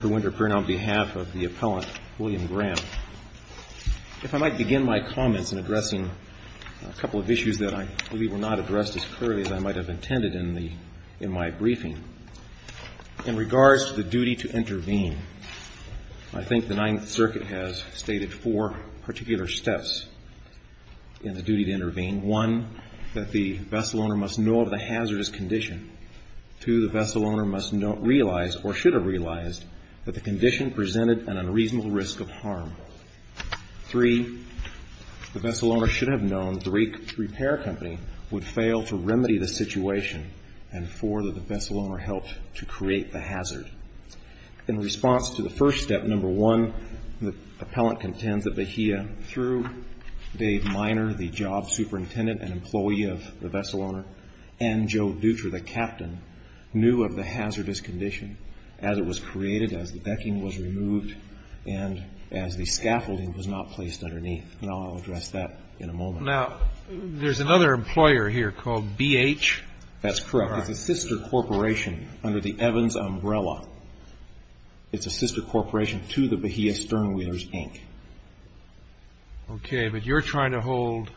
If I might begin my comments in addressing a couple of issues that I believe were not addressed as clearly as I might have intended in my briefing. In regards to the duty to intervene, I think the Ninth Circuit has stated four particular steps in the duty to intervene. One, that the vessel owner must know of the hazardous condition. Two, the vessel owner must realize, or should have realized, that the condition presented an unreasonable risk of harm. Three, the vessel owner should have known that the repair company would fail to remedy the situation. And four, that the vessel owner helped to create the hazard. In response to the first step, number one, the appellant contends that Bahia, through Dave Minor, the job superintendent and employee of the vessel owner, and Joe Dutra, the captain, knew of the hazardous condition as it was created, as the decking was removed, and as the scaffolding was not placed underneath. And I'll address that in a moment. Now, there's another employer here called BH? That's correct. It's a sister corporation under the Evans umbrella. It's a sister corporation to the Bahia Sternwheelers, Inc. Okay, but you're trying to hold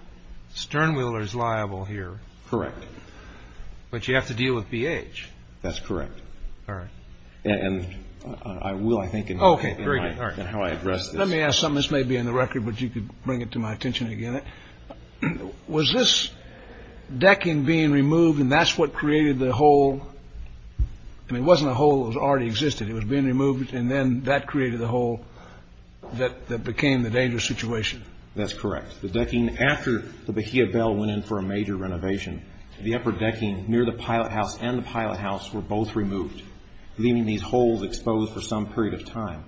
Sternwheelers liable here. Correct. But you have to deal with BH? That's correct. All right. And I will, I think, in how I address this. Let me ask something. This may be in the record, but you could bring it to my attention again. Was this decking being removed, and that's what created the hole? I mean, it wasn't a hole. It already existed. It was being removed, and then that created the hole that became the dangerous situation. That's correct. The decking, after the Bahia Bell went in for a major renovation, the upper decking near the pilot house and the pilot house were both removed, leaving these holes exposed for some period of time,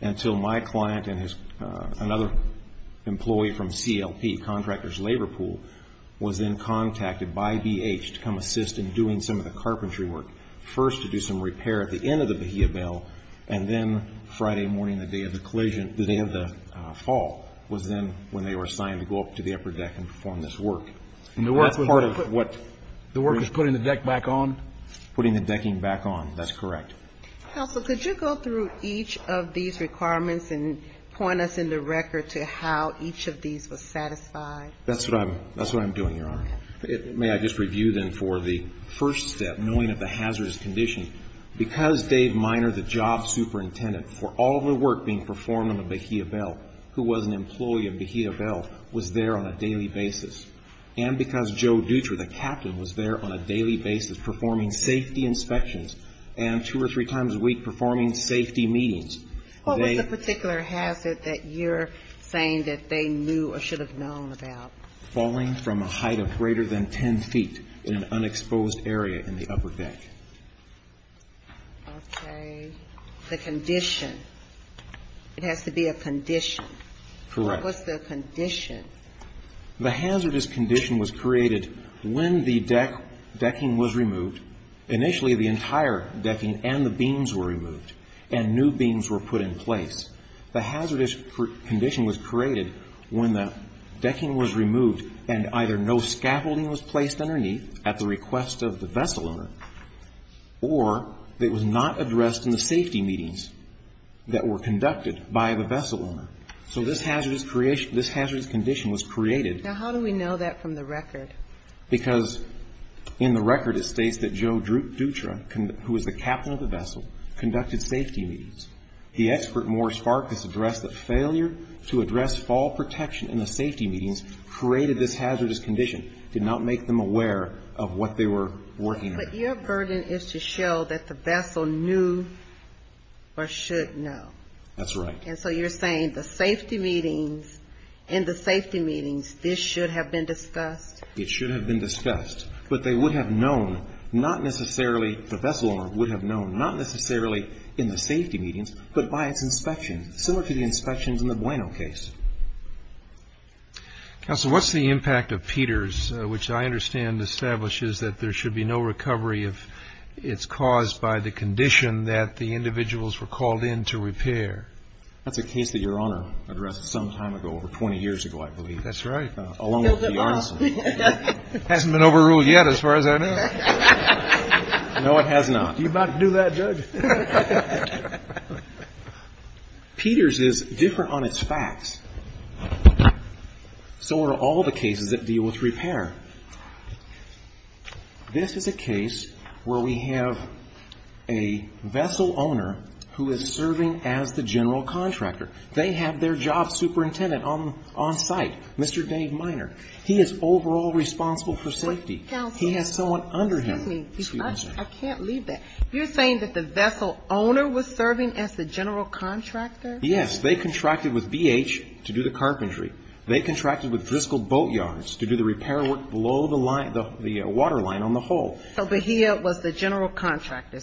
until my client and another employee from CLP, Contractors' Labor Pool, was then contacted by BH to come assist in doing some of the carpentry work. First to do some repair at the end of the Bahia Bell, and then Friday morning, the day of the fall, was then when they were assigned to go up to the upper deck and perform this work. And the work was part of what? The work was putting the deck back on? Putting the decking back on. That's correct. Counsel, could you go through each of these requirements and point us in the record to how each of these was satisfied? That's what I'm doing, Your Honor. May I just review, then, for the first step, knowing of the hazardous condition. Because Dave Minor, the job superintendent, for all of the work being performed on the Bahia Bell, who was an employee of Bahia Bell, was there on a daily basis. And because Joe Dutra, the captain, was there on a daily basis performing safety inspections and two or three times a week performing safety meetings, they What was the particular hazard that you're saying that they knew or should have known about? Falling from a height of greater than 10 feet in an unexposed area in the upper deck. Okay. The condition. It has to be a condition. Correct. What's the condition? The hazardous condition was created when the decking was removed. Initially, the entire decking and the beams were removed and new beams were put in place. The hazardous condition was created when the decking was removed and either no scaffolding was placed underneath at the request of the vessel owner or it was not addressed in the safety meetings that were conducted by the vessel owner. So this hazardous condition was created. Now, how do we know that from the record? Because in the record, it states that Joe Dutra, who was the captain of the vessel, conducted safety meetings. The expert, Morris Farkas, addressed that failure to address fall protection in the safety meetings created this hazardous condition, did not make them aware of what they were working on. But your burden is to show that the vessel knew or should know. That's right. And so you're saying the safety meetings, in the safety meetings, this should have been discussed? It should have been discussed. But they would have known, not necessarily, the vessel owner would have known, not necessarily in the safety meetings, but by its inspections in the Bueno case. Counsel, what's the impact of Peters, which I understand establishes that there should be no recovery if it's caused by the condition that the individuals were called in to repair? That's a case that your Honor addressed some time ago, over 20 years ago, I believe. That's right. Along with Bjornsson. Hasn't been overruled yet, as far as I know. No, it has not. You about to do that, Judge? Peters is different on its facts. So are all the cases that deal with repair. This is a case where we have a vessel owner who is serving as the general contractor. They have their job superintendent on site, Mr. Dave Minor. He is overall responsible for safety. Counsel. He has someone under him. Excuse me. I can't leave that. You're saying that the vessel owner was serving as the general contractor? Yes. They contracted with BH to do the carpentry. They contracted with Driscoll Boat Yards to do the repair work below the water line on the hull. So Bahia was the general contractor.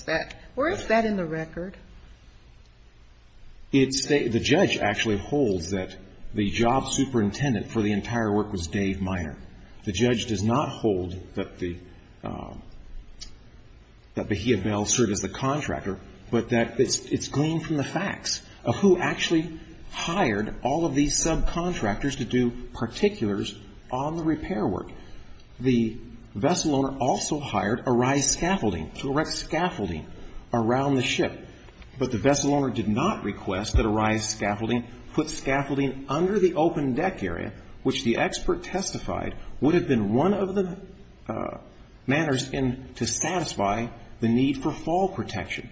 Where is that in the record? The judge actually holds that the job superintendent for the entire work was Dave Minor. The judge does not hold that Bahia Bell served as the contractor, but that it's gleaned from the facts of who actually hired all of these subcontractors to do particulars on the repair work. The vessel owner also hired a rise scaffolding to erect scaffolding around the ship. But the vessel owner did not request that a rise scaffolding put scaffolding under the open deck area, which the expert testified would have been one of the manners to satisfy the need for fall protection.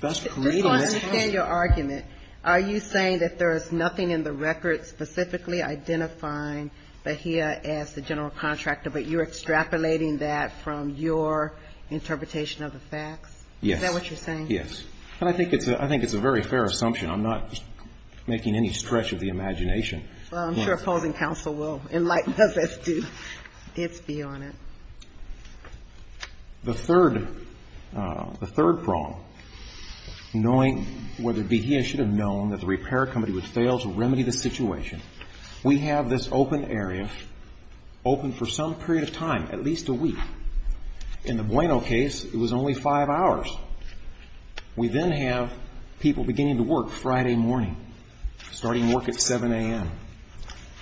Just so I understand your argument, are you saying that there is nothing in the record specifically identifying Bahia as the general contractor, but you're extrapolating that from your interpretation of the facts? Yes. Is that what you're saying? Yes. And I think it's a very fair assumption. I'm not making any stretch of the imagination. Well, I'm sure opposing counsel will enlighten us as to its beyond it. The third prong, knowing whether Bahia should have known that the repair company would fail to remedy the situation, we have this open area open for some period of time, at least a week. In the Bueno case, it was only five hours. We then have people beginning to work Friday morning, starting work at 7 a.m.,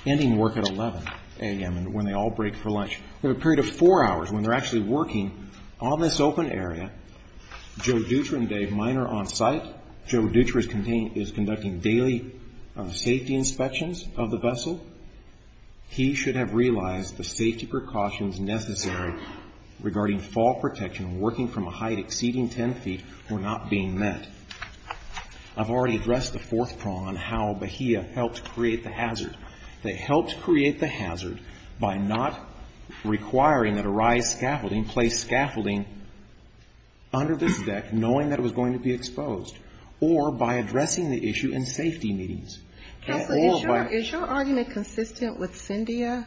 ending work at 11 a.m., and when they all break for lunch. We have a period of four hours when they're actually working on this open area. Joe Dutra and Dave Minor on site. Joe Dutra is conducting daily safety inspections of the vessel. He should have realized the safety precautions necessary regarding fall protection and working from a height exceeding 10 feet were not being met. I've already addressed the fourth prong on how Bahia helped create the hazard. They helped create the hazard by not requiring that a rise scaffolding place scaffolding under this deck, knowing that it was going to be exposed, or by addressing the issue in safety meetings. Counsel, is your argument consistent with Cyndia?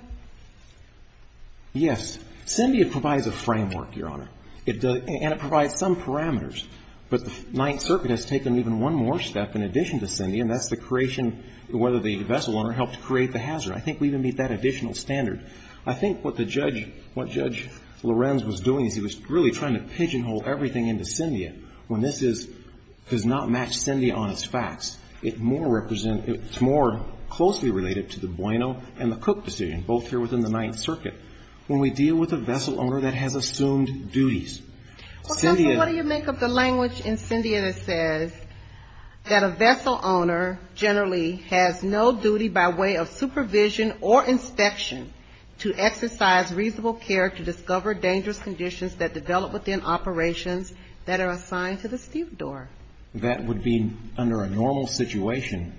Yes. Cyndia provides a framework, Your Honor, and it provides some parameters. But the Ninth Circuit has taken even one more step in addition to Cyndia, and that's the creation, whether the vessel owner helped create the hazard. I think we even meet that additional standard. I think what the judge, what Judge Lorenz was doing is he was really trying to pigeonhole everything into Cyndia, when this does not match Cyndia on its facts. It's more closely related to the Bueno and the Cook decision, both here within the Ninth Circuit, when we deal with a vessel owner that has assumed duties. Well, counsel, what do you make of the language in Cyndia that says that a vessel owner generally has no duty by way of supervision or inspection to exercise reasonable care to discover dangerous conditions that develop within operations that are assigned to the stevedore? That would be under a normal situation.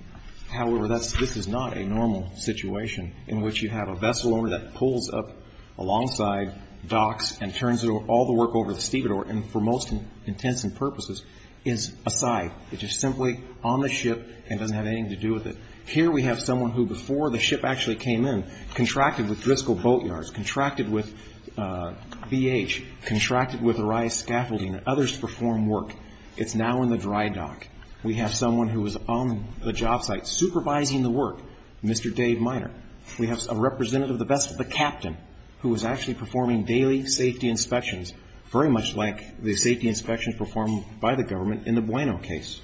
However, this is not a normal situation in which you have a vessel owner that pulls up alongside docks and turns all the work over to the stevedore and for most intents and purposes is aside. It is simply on the ship and doesn't have anything to do with it. Here we have someone who, before the ship actually came in, contracted with Driscoll Boat Yards, contracted with BH, contracted with Araya Scaffolding and others to perform work. It's now in the dry dock. We have someone who was on the job site supervising the work, Mr. Dave Minor. We have a representative of the vessel, the captain, who was actually performing daily safety inspections, very much like the safety inspections performed by the government in the Bueno case.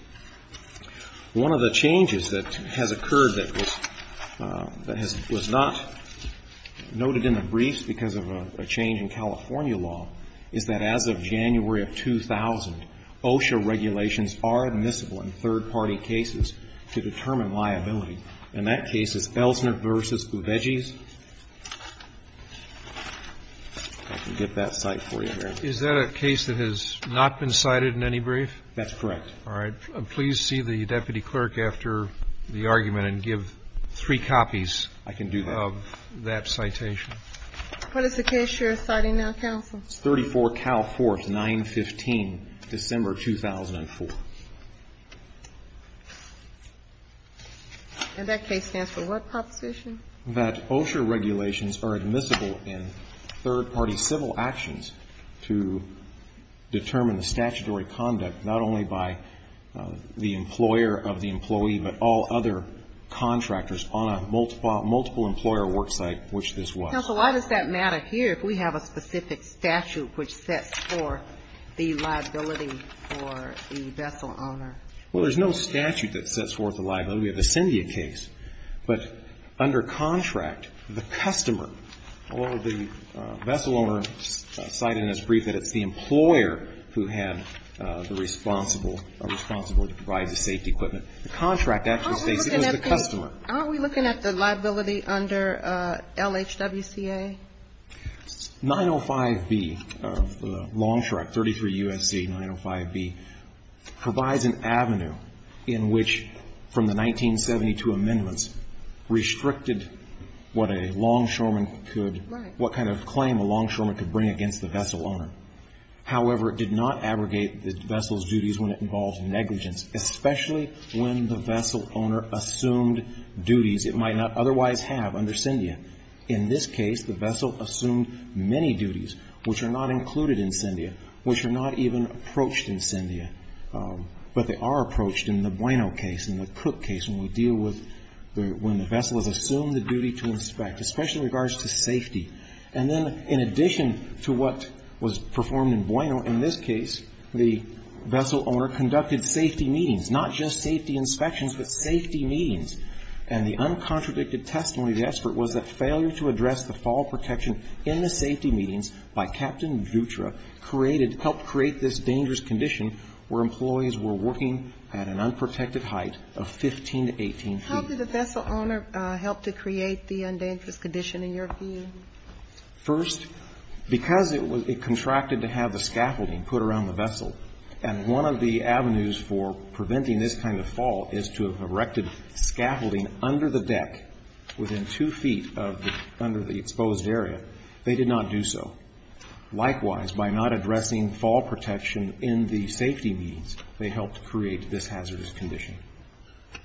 One of the changes that has occurred that was not noted in the briefs because of a change in California law is that as of January of 2000, OSHA regulations are admissible in third-party cases to determine liability. And that case is Elsner v. Uveges. I can get that cite for you, Mary. Is that a case that has not been cited in any brief? That's correct. All right. Please see the deputy clerk after the argument and give three copies of that citation. I can do that. What is the case you're citing now, counsel? It's 34 Cal 4th, 915, December 2004. And that case stands for what proposition? That OSHA regulations are admissible in third-party civil actions to determine the statutory conduct not only by the employer of the employee, but all other contractors on a multiple-employer work site, which this was. Counsel, why does that matter here if we have a specific statute which sets forth the liability for the vessel owner? Well, there's no statute that sets forth a liability. We have the Scindia case. But under contract, the customer, although the vessel owner cited in his brief that it's the employer who had the responsible, or responsibility to provide the safety equipment, the contract actually states it was the customer. Aren't we looking at the liability under LHWCA? 905B of Longstreet, 33 U.S.C. 905B, provides an avenue in which from the 1990s to 1972 amendments restricted what a longshoreman could, what kind of claim a longshoreman could bring against the vessel owner. However, it did not abrogate the vessel's duties when it involved negligence, especially when the vessel owner assumed duties it might not otherwise have under Scindia. In this case, the vessel assumed many duties which are not included in Scindia, which are not even approached in Scindia. But they are approached in the Bueno case, in the Cook case, when we deal with, when the vessel is assumed the duty to inspect, especially in regards to safety. And then in addition to what was performed in Bueno, in this case, the vessel owner conducted safety meetings, not just safety inspections, but safety meetings. And the uncontradicted testimony of the expert was that failure to address the fall protection in the safety meetings by Captain Dutra created, helped create this dangerous condition where employees were working at an unprotected height of 15 to 18 feet. How did the vessel owner help to create the undangerous condition in your view? First, because it contracted to have the scaffolding put around the vessel, and one of the avenues for preventing this kind of fall is to have erected scaffolding under the deck within two feet of the, under the exposed area. They did not do so. Likewise, by not addressing fall protection in the safety meetings, they helped create this hazardous condition.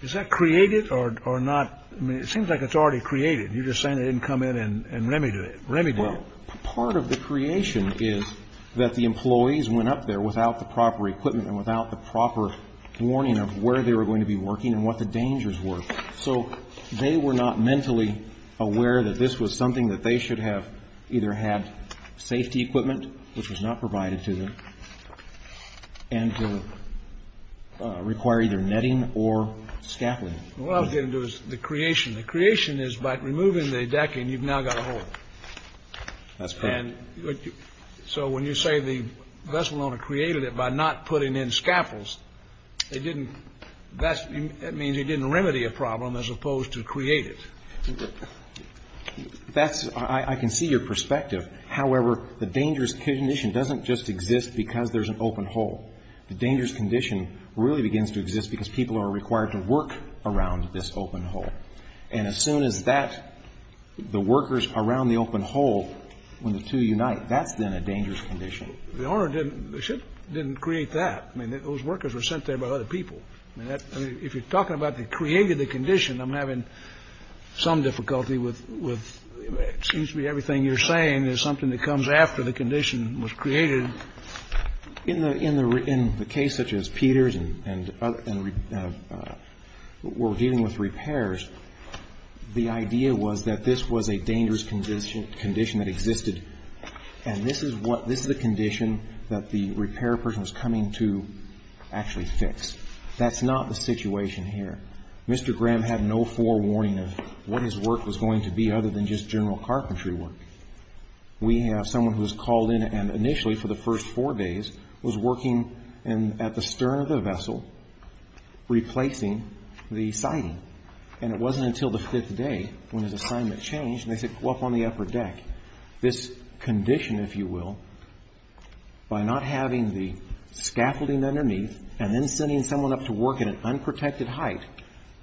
Is that created or not? I mean, it seems like it's already created. You're just saying they didn't come in and remedy it. Part of the creation is that the employees went up there without the proper equipment and without the proper warning of where they were going to be working and what the dangers were. So they were not mentally aware that this was something that they should have either had safety equipment, which was not provided to them, and to require either netting or scaffolding. What I was getting to is the creation. The creation is by removing the decking, you've now got a hole. That's correct. So when you say the vessel owner created it by not putting in scaffolds, that means he didn't remedy a problem as opposed to create it. That's, I can see your perspective. However, the dangerous condition doesn't just exist because there's an open hole. The dangerous condition really begins to exist because people are required to work around this open hole. And as soon as that, the workers around the open hole, when the two unite, that's then a dangerous condition. The owner didn't, the ship didn't create that. I mean, those workers were sent there by other people. I mean, if you're talking about they created the condition, I'm having some difficulty with, it seems to me everything you're saying is something that comes after the condition was created. In the case such as Peter's and we're dealing with repairs, the idea was that this was a dangerous condition that existed, and this is the condition that the repair person was coming to actually fix. That's not the situation here. Mr. Graham had no forewarning of what his work was going to be other than just general carpentry work. We have someone who was called in and initially for the first four days was working at the stern of the vessel replacing the siding. And it wasn't until the fifth day when his assignment changed and they said, go up on the upper deck. This condition, if you will, by not having the scaffolding underneath and then sending someone up to work at an unprotected height,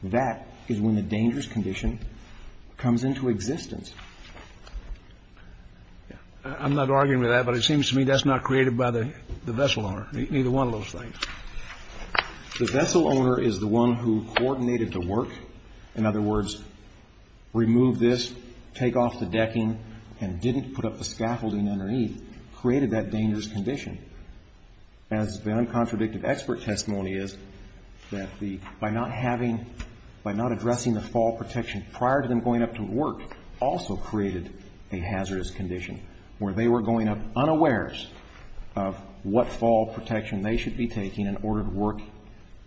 that is when the dangerous condition comes into existence. I'm not arguing with that, but it seems to me that's not created by the vessel owner, neither one of those things. The vessel owner is the one who coordinated the work. In other words, remove this, take off the decking and didn't put up the scaffolding underneath created that dangerous condition. As the uncontradictive expert testimony is, that by not having, by not addressing the fall protection prior to them going up to work also created a hazardous condition where they were going up unawares of what fall protection they should be taking in order to work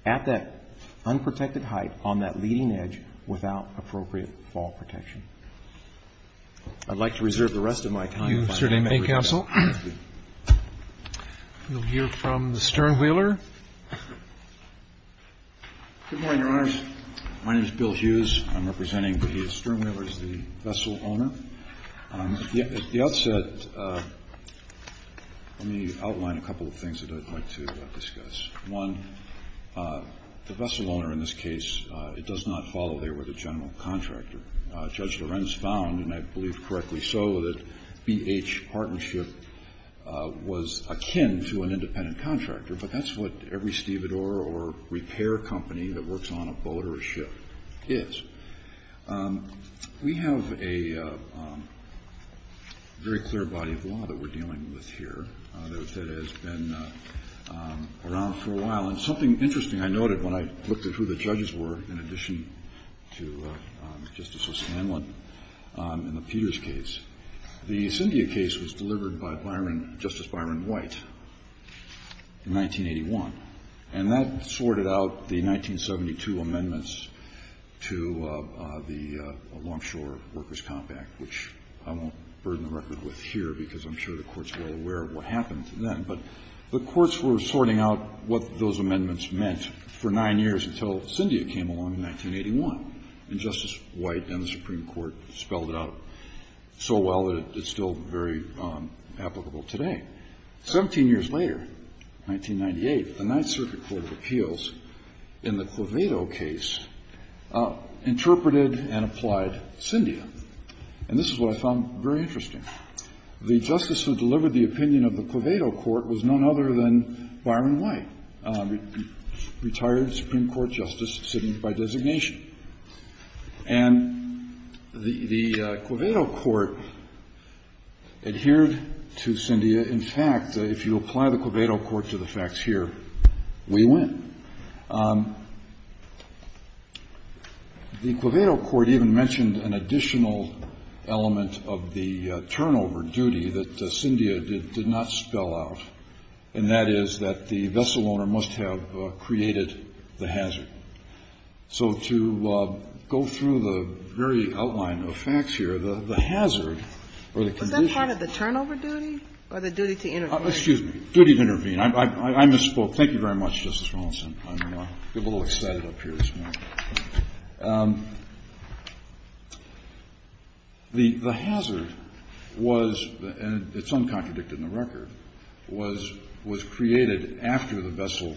at that unprotected height on that leading edge without appropriate fall protection. I'd like to reserve the rest of my time. Thank you, Mr. D'Amico. Thank you. We'll hear from the sternwheeler. Good morning, Your Honors. My name is Bill Hughes. I'm representing the sternwheelers, the vessel owner. At the outset, let me outline a couple of things that I'd like to discuss. One, the vessel owner in this case, it does not follow they were the general contractor. Judge Lorenz found, and I believe correctly so, that BH partnership was akin to an independent contractor, but that's what every stevedore or repair company that works on a boat or a ship is. We have a very clear body of law that we're dealing with here that has been around for a long time. For a while. And something interesting I noted when I looked at who the judges were in addition to Justice O'Scanlan in the Peters case, the Cynthia case was delivered by Justice Byron White in 1981, and that sorted out the 1972 amendments to the Longshore Workers' Compact, which I won't burden the record with here because I'm sure the courts were aware of what happened then, but the courts were sorting out what those amendments meant for nine years until Cynthia came along in 1981, and Justice White and the Supreme Court spelled it out so well that it's still very applicable today. Seventeen years later, 1998, the Ninth Circuit Court of Appeals in the Clevedo case interpreted and applied Cynthia, and this is what I found very interesting. The justice who delivered the opinion of the Clevedo court was none other than Byron White, retired Supreme Court justice sitting by designation. And the Clevedo court adhered to Cynthia. In fact, if you apply the Clevedo court to the facts here, we win. The Clevedo court even mentioned an additional element of the turnover duty that Cynthia did not spell out, and that is that the vessel owner must have created the hazard. So to go through the very outline of facts here, the hazard or the condition of the turnover duty or the duty to intervene. Excuse me. Duty to intervene. I misspoke. Thank you very much, Justice Ronaldson. I'm a little excited up here this morning. The hazard was, and it's uncontradicted in the record, was created after the vessel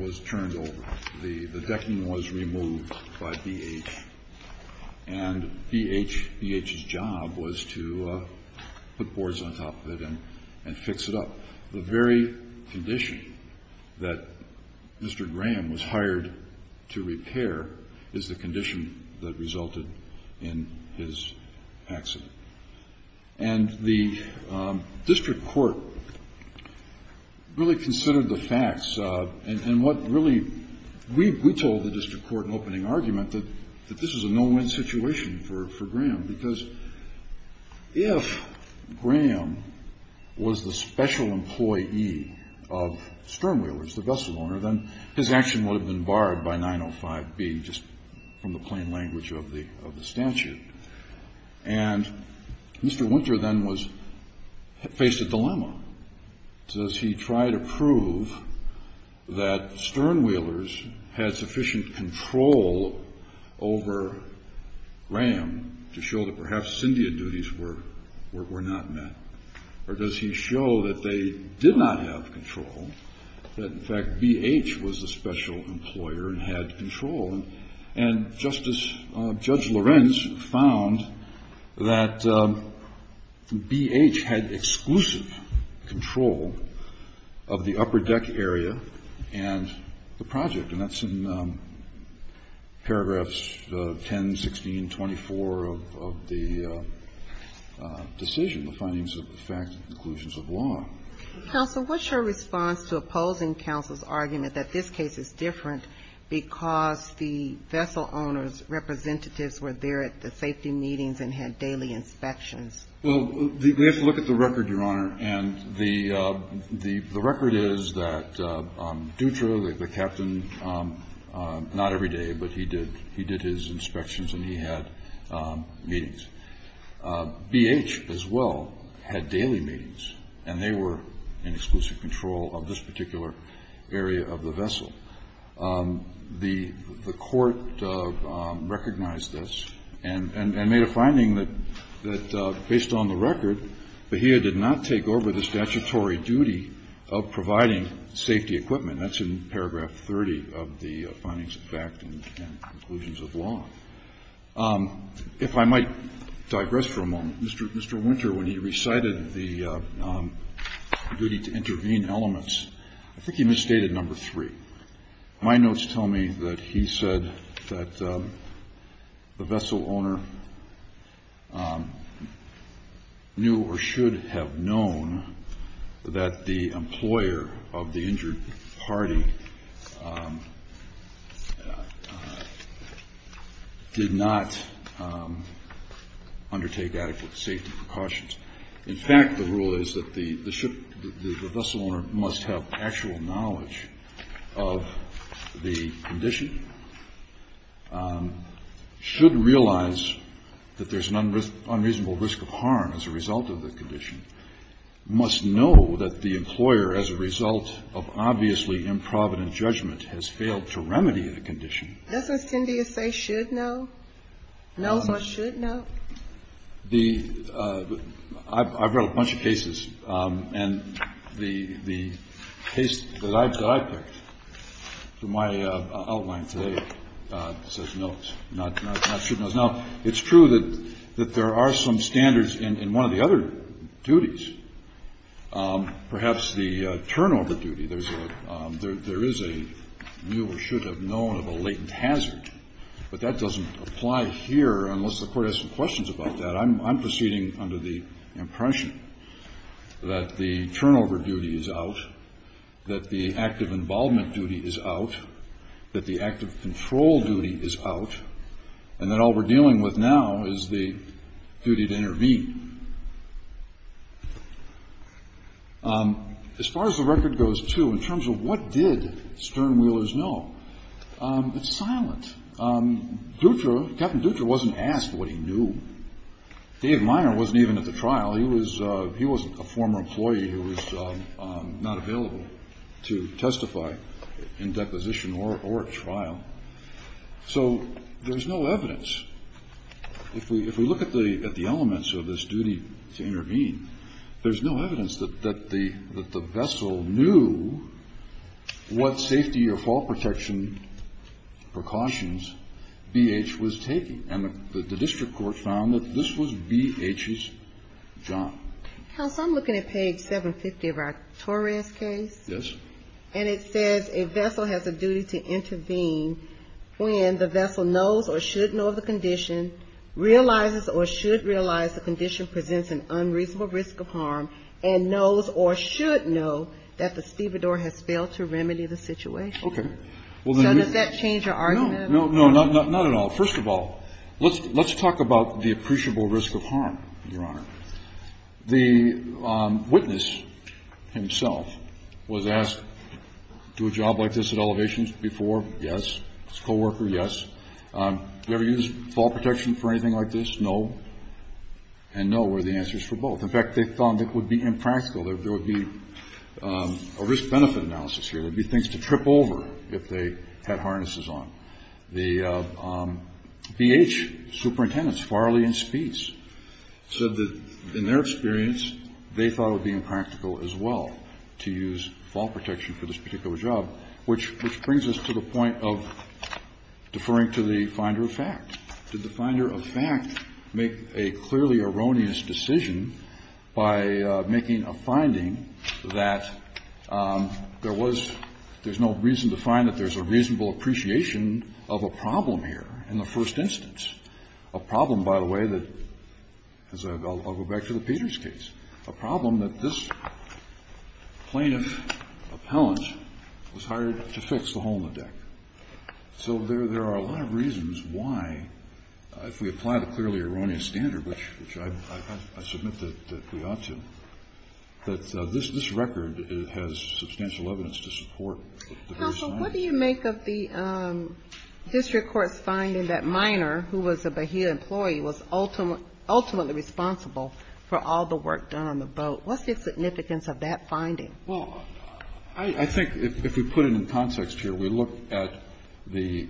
was turned over. The decking was removed by BH, and BH's job was to put boards on top of it and fix it up. The very condition that Mr. Graham was hired to repair is the condition that resulted in his accident. And the district court really considered the facts, and what really we told the district court in opening argument that this was a no-win situation for Graham, because if Graham was the special employee of Sternwheelers, the vessel owner, then his action would have been barred by 905B, just from the plain language of the statute. And Mr. Winter then was faced a dilemma. Does he try to prove that Sternwheelers had sufficient control over Graham to show that perhaps syndia duties were not met? Or does he show that they did not have control, that, in fact, BH was the special employer and had control? And Justice Judge Lorenz found that BH had exclusive control of the upper deck area and the project. And that's in paragraphs 10, 16, 24 of the decision, the findings of the fact and conclusions of law. Counsel, what's your response to opposing counsel's argument that this case is different because the vessel owner's representatives were there at the safety meetings and had daily inspections? Well, we have to look at the record, Your Honor. And the record is that Dutra, the captain, not every day, but he did his inspections and he had meetings. BH as well had daily meetings, and they were in exclusive control of this particular area of the vessel. The court recognized this and made a finding that, based on the record, Bahia did not take over the statutory duty of providing safety equipment. That's in paragraph 30 of the findings of fact and conclusions of law. If I might digress for a moment, Mr. Winter, when he recited the duty to intervene elements, I think he misstated number three. My notes tell me that he said that the vessel owner knew or should have known that the employer of the injured party did not undertake adequate safety precautions. In fact, the rule is that the vessel owner must have actual knowledge of the condition, should realize that there's an unreasonable risk of harm as a result of the condition, must know that the employer, as a result of obviously improvident judgment, has failed to remedy the condition. Doesn't Cindy say should know? No one should know. I've read a bunch of cases, and the case that I picked for my outline today says no, not should know. Now, it's true that there are some standards in one of the other duties. Perhaps the turnover duty, there is a knew or should have known of a latent hazard, but that doesn't apply here unless the Court has some questions about that. I'm proceeding under the impression that the turnover duty is out, that the active involvement duty is out, that the active control duty is out, and that all we're dealing with now is the duty to intervene. As far as the record goes, too, in terms of what did Stern-Wheelers know, it's silent. Dutra, Captain Dutra wasn't asked what he knew. Dave Minor wasn't even at the trial. He was a former employee who was not available to testify in deposition or at trial. So there's no evidence. If we look at the elements of this duty to intervene, there's no evidence that the fall protection precautions BH was taking. And the district court found that this was BH's job. Counsel, I'm looking at page 750 of our Torres case. Yes. And it says a vessel has a duty to intervene when the vessel knows or should know of the condition, realizes or should realize the condition presents an unreasonable risk of harm, and knows or should know that the stevedore has failed to remedy the situation. Okay. So does that change your argument? No. No, not at all. First of all, let's talk about the appreciable risk of harm, Your Honor. The witness himself was asked, do a job like this at elevations before? Yes. His co-worker, yes. Do you ever use fall protection for anything like this? No. And no were the answers for both. In fact, they found it would be impractical. There would be a risk-benefit analysis here. There would be things to trip over if they had harnesses on. The BH superintendents, Farley and Speets, said that in their experience, they thought it would be impractical as well to use fall protection for this particular job, which brings us to the point of deferring to the finder of fact. Did the finder of fact make a clearly erroneous decision by making a finding that there was no reason to find that there's a reasonable appreciation of a problem here in the first instance? A problem, by the way, that as I go back to the Peters case, a problem that this plaintiff appellant was hired to fix the hole in the deck. So there are a lot of reasons why, if we apply the clearly erroneous standard, which I submit that we ought to, that this record has substantial evidence to support the first finding. Counsel, what do you make of the district court's finding that Miner, who was a Bahia employee, was ultimately responsible for all the work done on the boat? What's the significance of that finding? Well, I think if we put it in context here, we look at the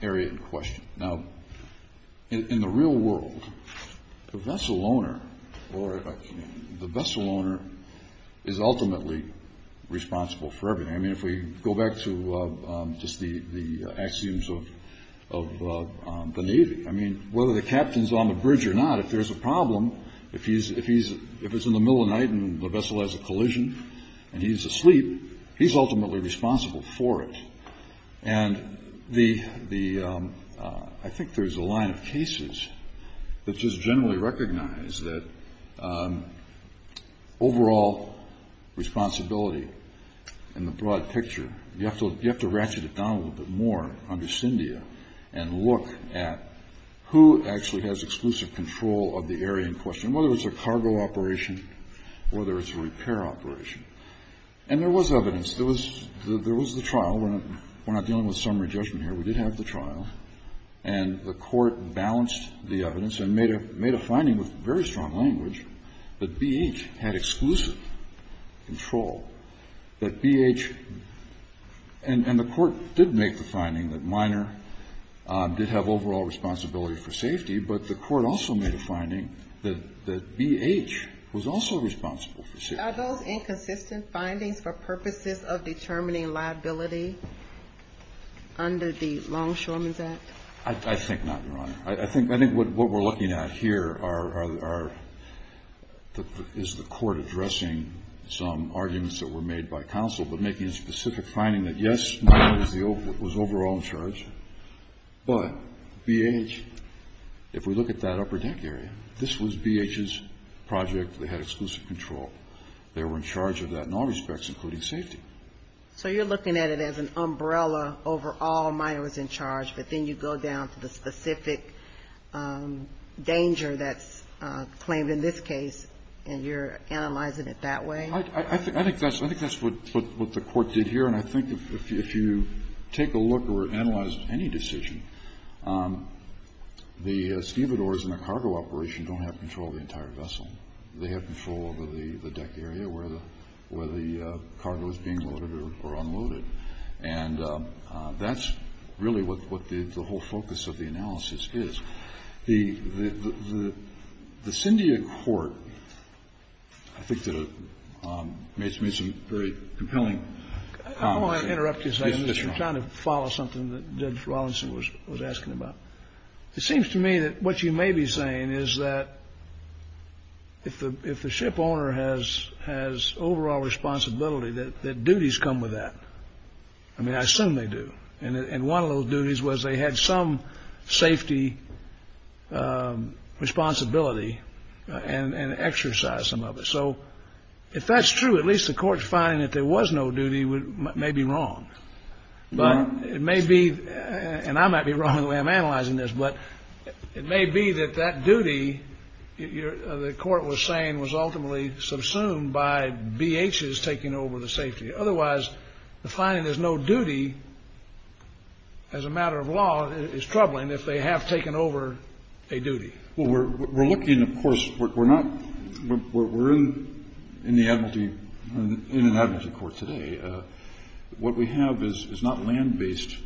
area in question. Now, in the real world, the vessel owner is ultimately responsible for everything. I mean, if we go back to just the axioms of the Navy, I mean, whether the captain's on the bridge or not, if there's a problem, if it's in the middle of the night and the vessel has a collision and he's asleep, he's ultimately responsible for it. And the – I think there's a line of cases that just generally recognize that overall responsibility in the broad picture, you have to ratchet it down a little bit more under CINDIA and look at who actually has exclusive control of the area in question, whether it's a cargo operation, whether it's a repair operation. And there was evidence. There was the trial. We're not dealing with summary judgment here. We did have the trial. And the Court balanced the evidence and made a finding with very strong language that BH had exclusive control, that BH – and the Court did make the finding that Miner did have overall responsibility for safety, but the Court also made a finding that BH was also responsible for safety. And are those inconsistent findings for purposes of determining liability under the Longshoremen's Act? I think not, Your Honor. I think what we're looking at here are – is the Court addressing some arguments that were made by counsel, but making a specific finding that, yes, Miner was overall in charge, but BH, if we look at that upper deck area, this was BH's project. They had exclusive control. They were in charge of that in all respects, including safety. So you're looking at it as an umbrella over all Miner was in charge, but then you go down to the specific danger that's claimed in this case, and you're analyzing it that way? I think that's what the Court did here. And I think if you take a look or analyze any decision, the stevedores in a cargo operation don't have control of the entire vessel. They have control over the deck area where the cargo is being loaded or unloaded. And that's really what the whole focus of the analysis is. The syndia court, I think, made some very compelling comments. I don't want to interrupt you, sir. I'm just trying to follow something that Judge Rawlinson was asking about. It seems to me that what you may be saying is that if the shipowner has overall responsibility, that duties come with that. I mean, I assume they do. And one of those duties was they had some safety responsibility and exercise some of it. So if that's true, at least the Court's finding that there was no duty may be wrong. But it may be, and I might be wrong in the way I'm analyzing this, but it may be that that duty, the Court was saying, was ultimately subsumed by B.H.'s taking over the safety. Otherwise, the finding there's no duty as a matter of law is troubling if they have taken over a duty. Well, we're looking, of course, we're not, we're in the admiralty, in an admiralty court today. What we have is not land-based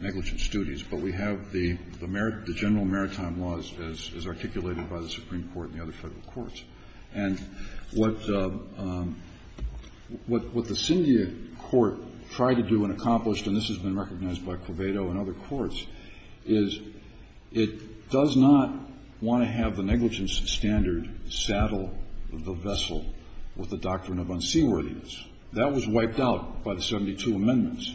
negligence duties, but we have the general maritime laws as articulated by the Supreme Court and the other federal courts. And what the Syndia Court tried to do and accomplished, and this has been recognized by Quvedo and other courts, is it does not want to have the negligence standard saddle the vessel with the doctrine of unseaworthiness. That was wiped out by the 72 amendments.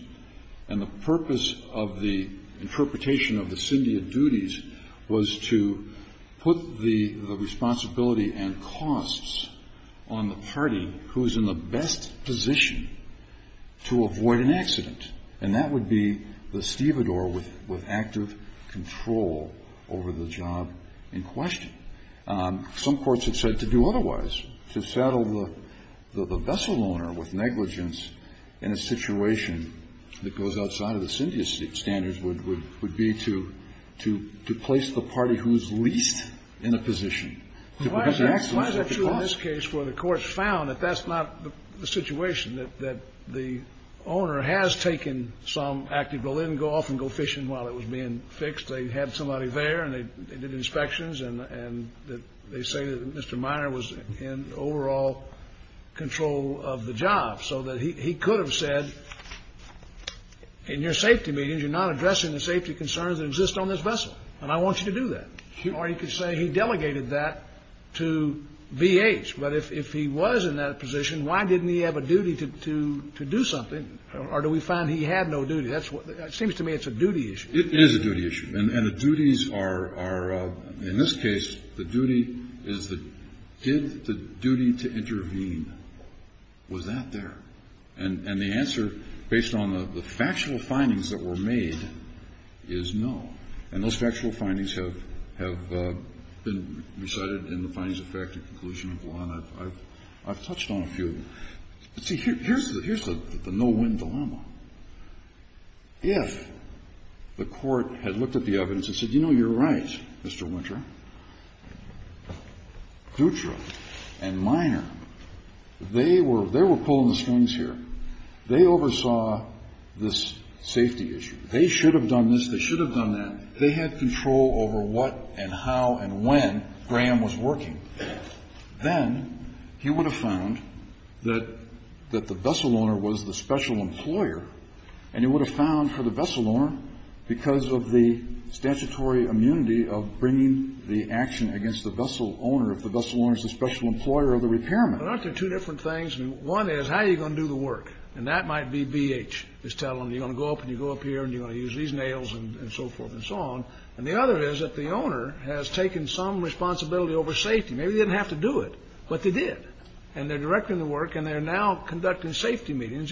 And the purpose of the interpretation of the Syndia duties was to put the responsibility and costs on the party who is in the best position to avoid an accident. And that would be the stevedore with active control over the job in question. Some courts have said to do otherwise. To saddle the vessel owner with negligence in a situation that goes outside of the Syndia standards would be to place the party who is least in a position to prevent an accident. Why is that true in this case where the courts found that that's not the situation, that the owner has taken some active bull in, go off and go fishing while it was being fixed? They had somebody there and they did inspections and they say that Mr. Meyer was in overall control of the job. So that he could have said, in your safety meetings, you're not addressing the safety concerns that exist on this vessel, and I want you to do that. Or he could say he delegated that to VH. But if he was in that position, why didn't he have a duty to do something? Or do we find he had no duty? It seems to me it's a duty issue. It is a duty issue. And the duties are, in this case, the duty is to give the duty to intervene. Was that there? And the answer, based on the factual findings that were made, is no. And those factual findings have been recited in the findings of fact and conclusion of law, and I've touched on a few of them. See, here's the no-win dilemma. If the Court had looked at the evidence and said, you know, you're right, Mr. Winter, Dutra and Meyer, they were pulling the strings here. They oversaw this safety issue. They should have done this. They should have done that. They had control over what and how and when Graham was working. Then he would have found that the vessel owner was the special employer, and he would have found for the vessel owner, because of the statutory immunity of bringing the action against the vessel owner, if the vessel owner is the special employer of the repairman. Well, aren't there two different things? One is, how are you going to do the work? And that might be BH is telling them, you're going to go up and you go up here and you're going to use these nails and so forth and so on. And the other is that the owner has taken some responsibility over safety. Maybe they didn't have to do it, but they did. And they're directing the work and they're now conducting safety meetings.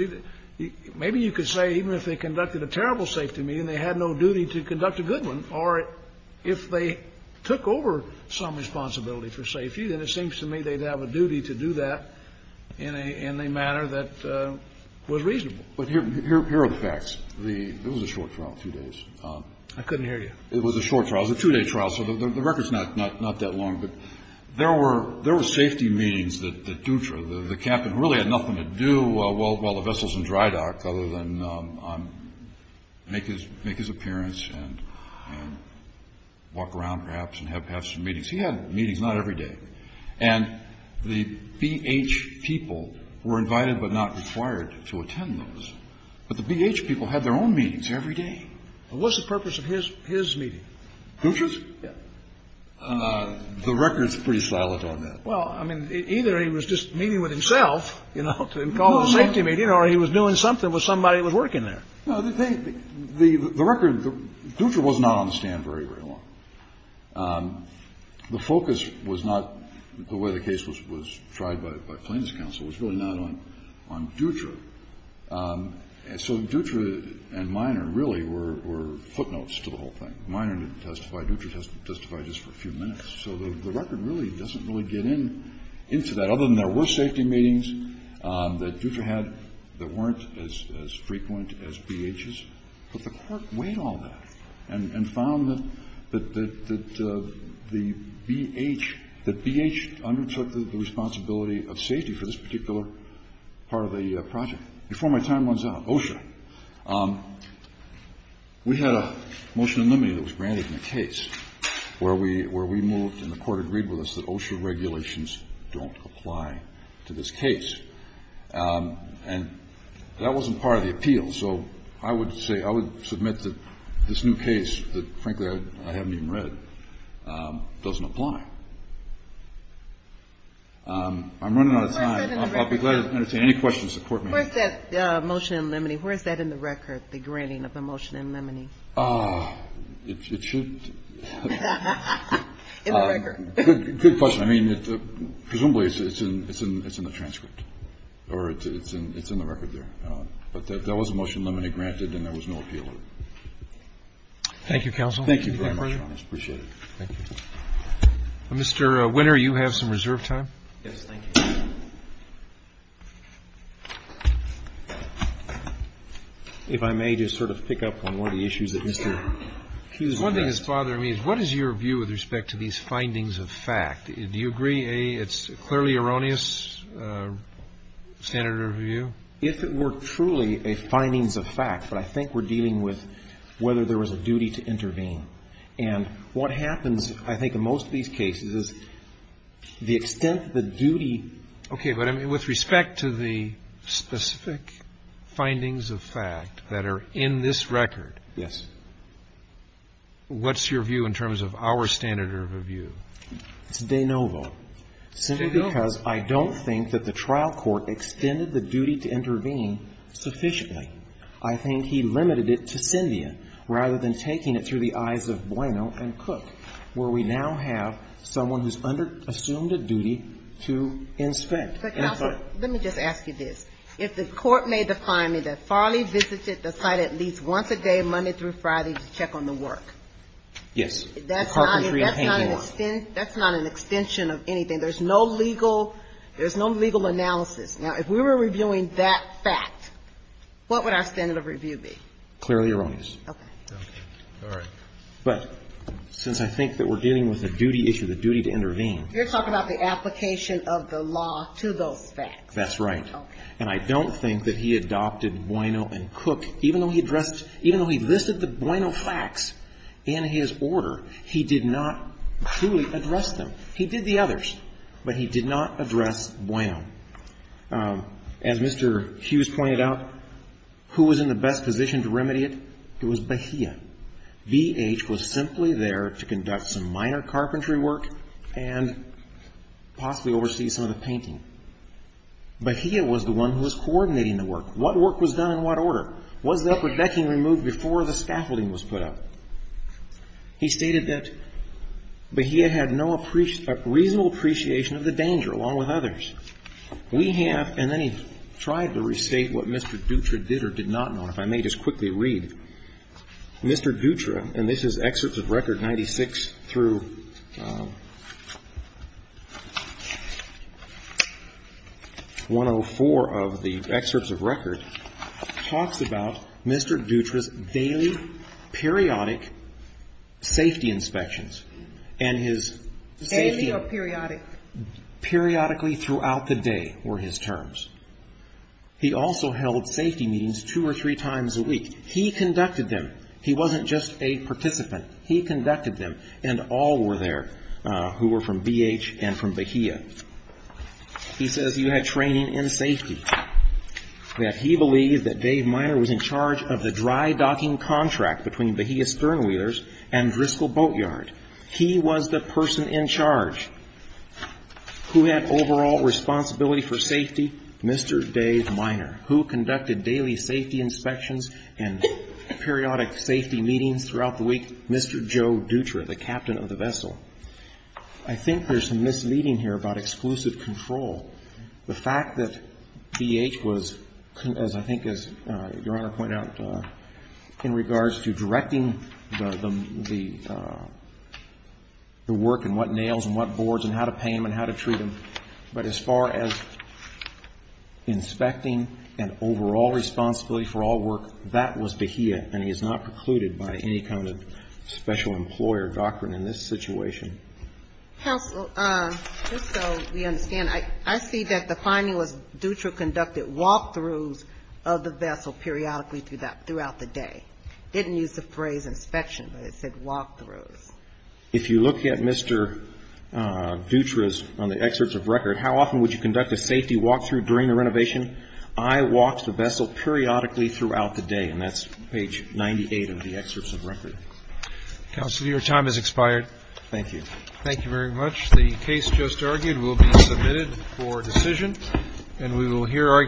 Maybe you could say even if they conducted a terrible safety meeting, they had no duty to conduct a good one, or if they took over some responsibility for safety, then it seems to me they'd have a duty to do that in a manner that was reasonable. But here are the facts. This was a short trial, a few days. I couldn't hear you. It was a short trial. It was a two-day trial, so the record's not that long. But there were safety meetings that Dutra, the captain, really had nothing to do while the vessel's in dry dock other than make his appearance and walk around perhaps and have some meetings. He had meetings not every day. And the BH people were invited but not required to attend those. But the BH people had their own meetings every day. And what's the purpose of his meeting? Dutra's? Yeah. The record's pretty silent on that. Well, I mean, either he was just meeting with himself, you know, to call a safety meeting, or he was doing something with somebody that was working there. No, the record, Dutra was not on the stand very, very long. The focus was not the way the case was tried by plaintiff's counsel. It was really not on Dutra. So Dutra and Minor really were footnotes to the whole thing. Minor didn't testify. Dutra testified just for a few minutes. So the record really doesn't really get into that, other than there were safety meetings that Dutra had that weren't as frequent as BH's. But the Court weighed all that and found that the BH undertook the responsibility of safety for this particular part of the project. Before my time runs out, OSHA. We had a motion in limine that was granted in the case where we moved and the Court agreed with us that OSHA regulations don't apply to this case. And that wasn't part of the appeal. So I would say I would submit that this new case that, frankly, I haven't even read doesn't apply. I'm running out of time. I'll be glad to entertain any questions the Court may have. Where is that motion in limine? Where is that in the record, the granting of the motion in limine? It should. In the record. Good question. I mean, presumably it's in the transcript or it's in the record there. But there was a motion in limine granted and there was no appeal. Thank you, counsel. Thank you very much, Your Honor. I appreciate it. Mr. Winner, you have some reserve time. Yes, thank you. If I may just sort of pick up on one of the issues that Mr. Hughes had. One thing that's bothering me is what is your view with respect to these findings of fact? Do you agree it's clearly erroneous standard of view? If it were truly a findings of fact, but I think we're dealing with whether there was a duty to intervene. And what happens, I think, in most of these cases is the extent of the duty. Okay. But I mean, with respect to the specific findings of fact that are in this record. Yes. What's your view in terms of our standard of view? It's de novo, simply because I don't think that the trial court extended the duty to intervene sufficiently. I think he limited it to Syndia rather than taking it through the eyes of Boino and Cook, where we now have someone who's assumed a duty to inspect. But, counsel, let me just ask you this. If the court may define me that Farley visited the site at least once a day, Monday through Friday, to check on the work. Yes. That's not an extension of anything. There's no legal analysis. Now, if we were reviewing that fact, what would our standard of review be? Clearly erroneous. Okay. All right. But since I think that we're dealing with a duty issue, the duty to intervene. You're talking about the application of the law to those facts. That's right. Okay. And I don't think that he adopted Boino and Cook, even though he addressed even though he listed the Boino facts in his order, he did not truly address them. He did the others, but he did not address Boino. As Mr. Hughes pointed out, who was in the best position to remedy it? It was Bahia. VH was simply there to conduct some minor carpentry work and possibly oversee some of the painting. Bahia was the one who was coordinating the work. What work was done in what order? Was the upper decking removed before the scaffolding was put up? He stated that Bahia had no reasonable appreciation of the danger, along with others. We have, and then he tried to restate what Mr. Dutra did or did not know, and if I may just quickly read. Mr. Dutra, and this is Excerpts of Record 96 through 104 of the Excerpts of Record, talks about Mr. Dutra's daily, periodic safety inspections. Daily or periodic? Periodically throughout the day were his terms. He also held safety meetings two or three times a week. He conducted them. He wasn't just a participant. He conducted them, and all were there who were from VH and from Bahia. He says you had training in safety. That he believed that Dave Minor was in charge of the dry docking contract between Bahia Sternwheelers and Driscoll Boatyard. He was the person in charge. Who had overall responsibility for safety? Mr. Dave Minor. Who conducted daily safety inspections and periodic safety meetings throughout the week? Mr. Joe Dutra, the captain of the vessel. I think there's some misleading here about exclusive control. The fact that VH was, as I think as Your Honor pointed out, in regards to directing the work and what nails and what boards and how to paint them and how to treat them, but as far as inspecting and overall responsibility for all work, that was Bahia, and he is not precluded by any kind of special employer doctrine in this situation. Counsel, just so we understand, I see that the finding was Dutra conducted walk-throughs of the vessel periodically throughout the day. Didn't use the phrase inspection, but it said walk-throughs. If you look at Mr. Dutra's, on the excerpts of record, how often would you conduct a safety walk-through during a renovation? I walked the vessel periodically throughout the day, and that's page 98 of the excerpts of record. Counsel, your time has expired. Thank you. Thank you very much. The case just argued will be submitted for decision, and we will hear arguments.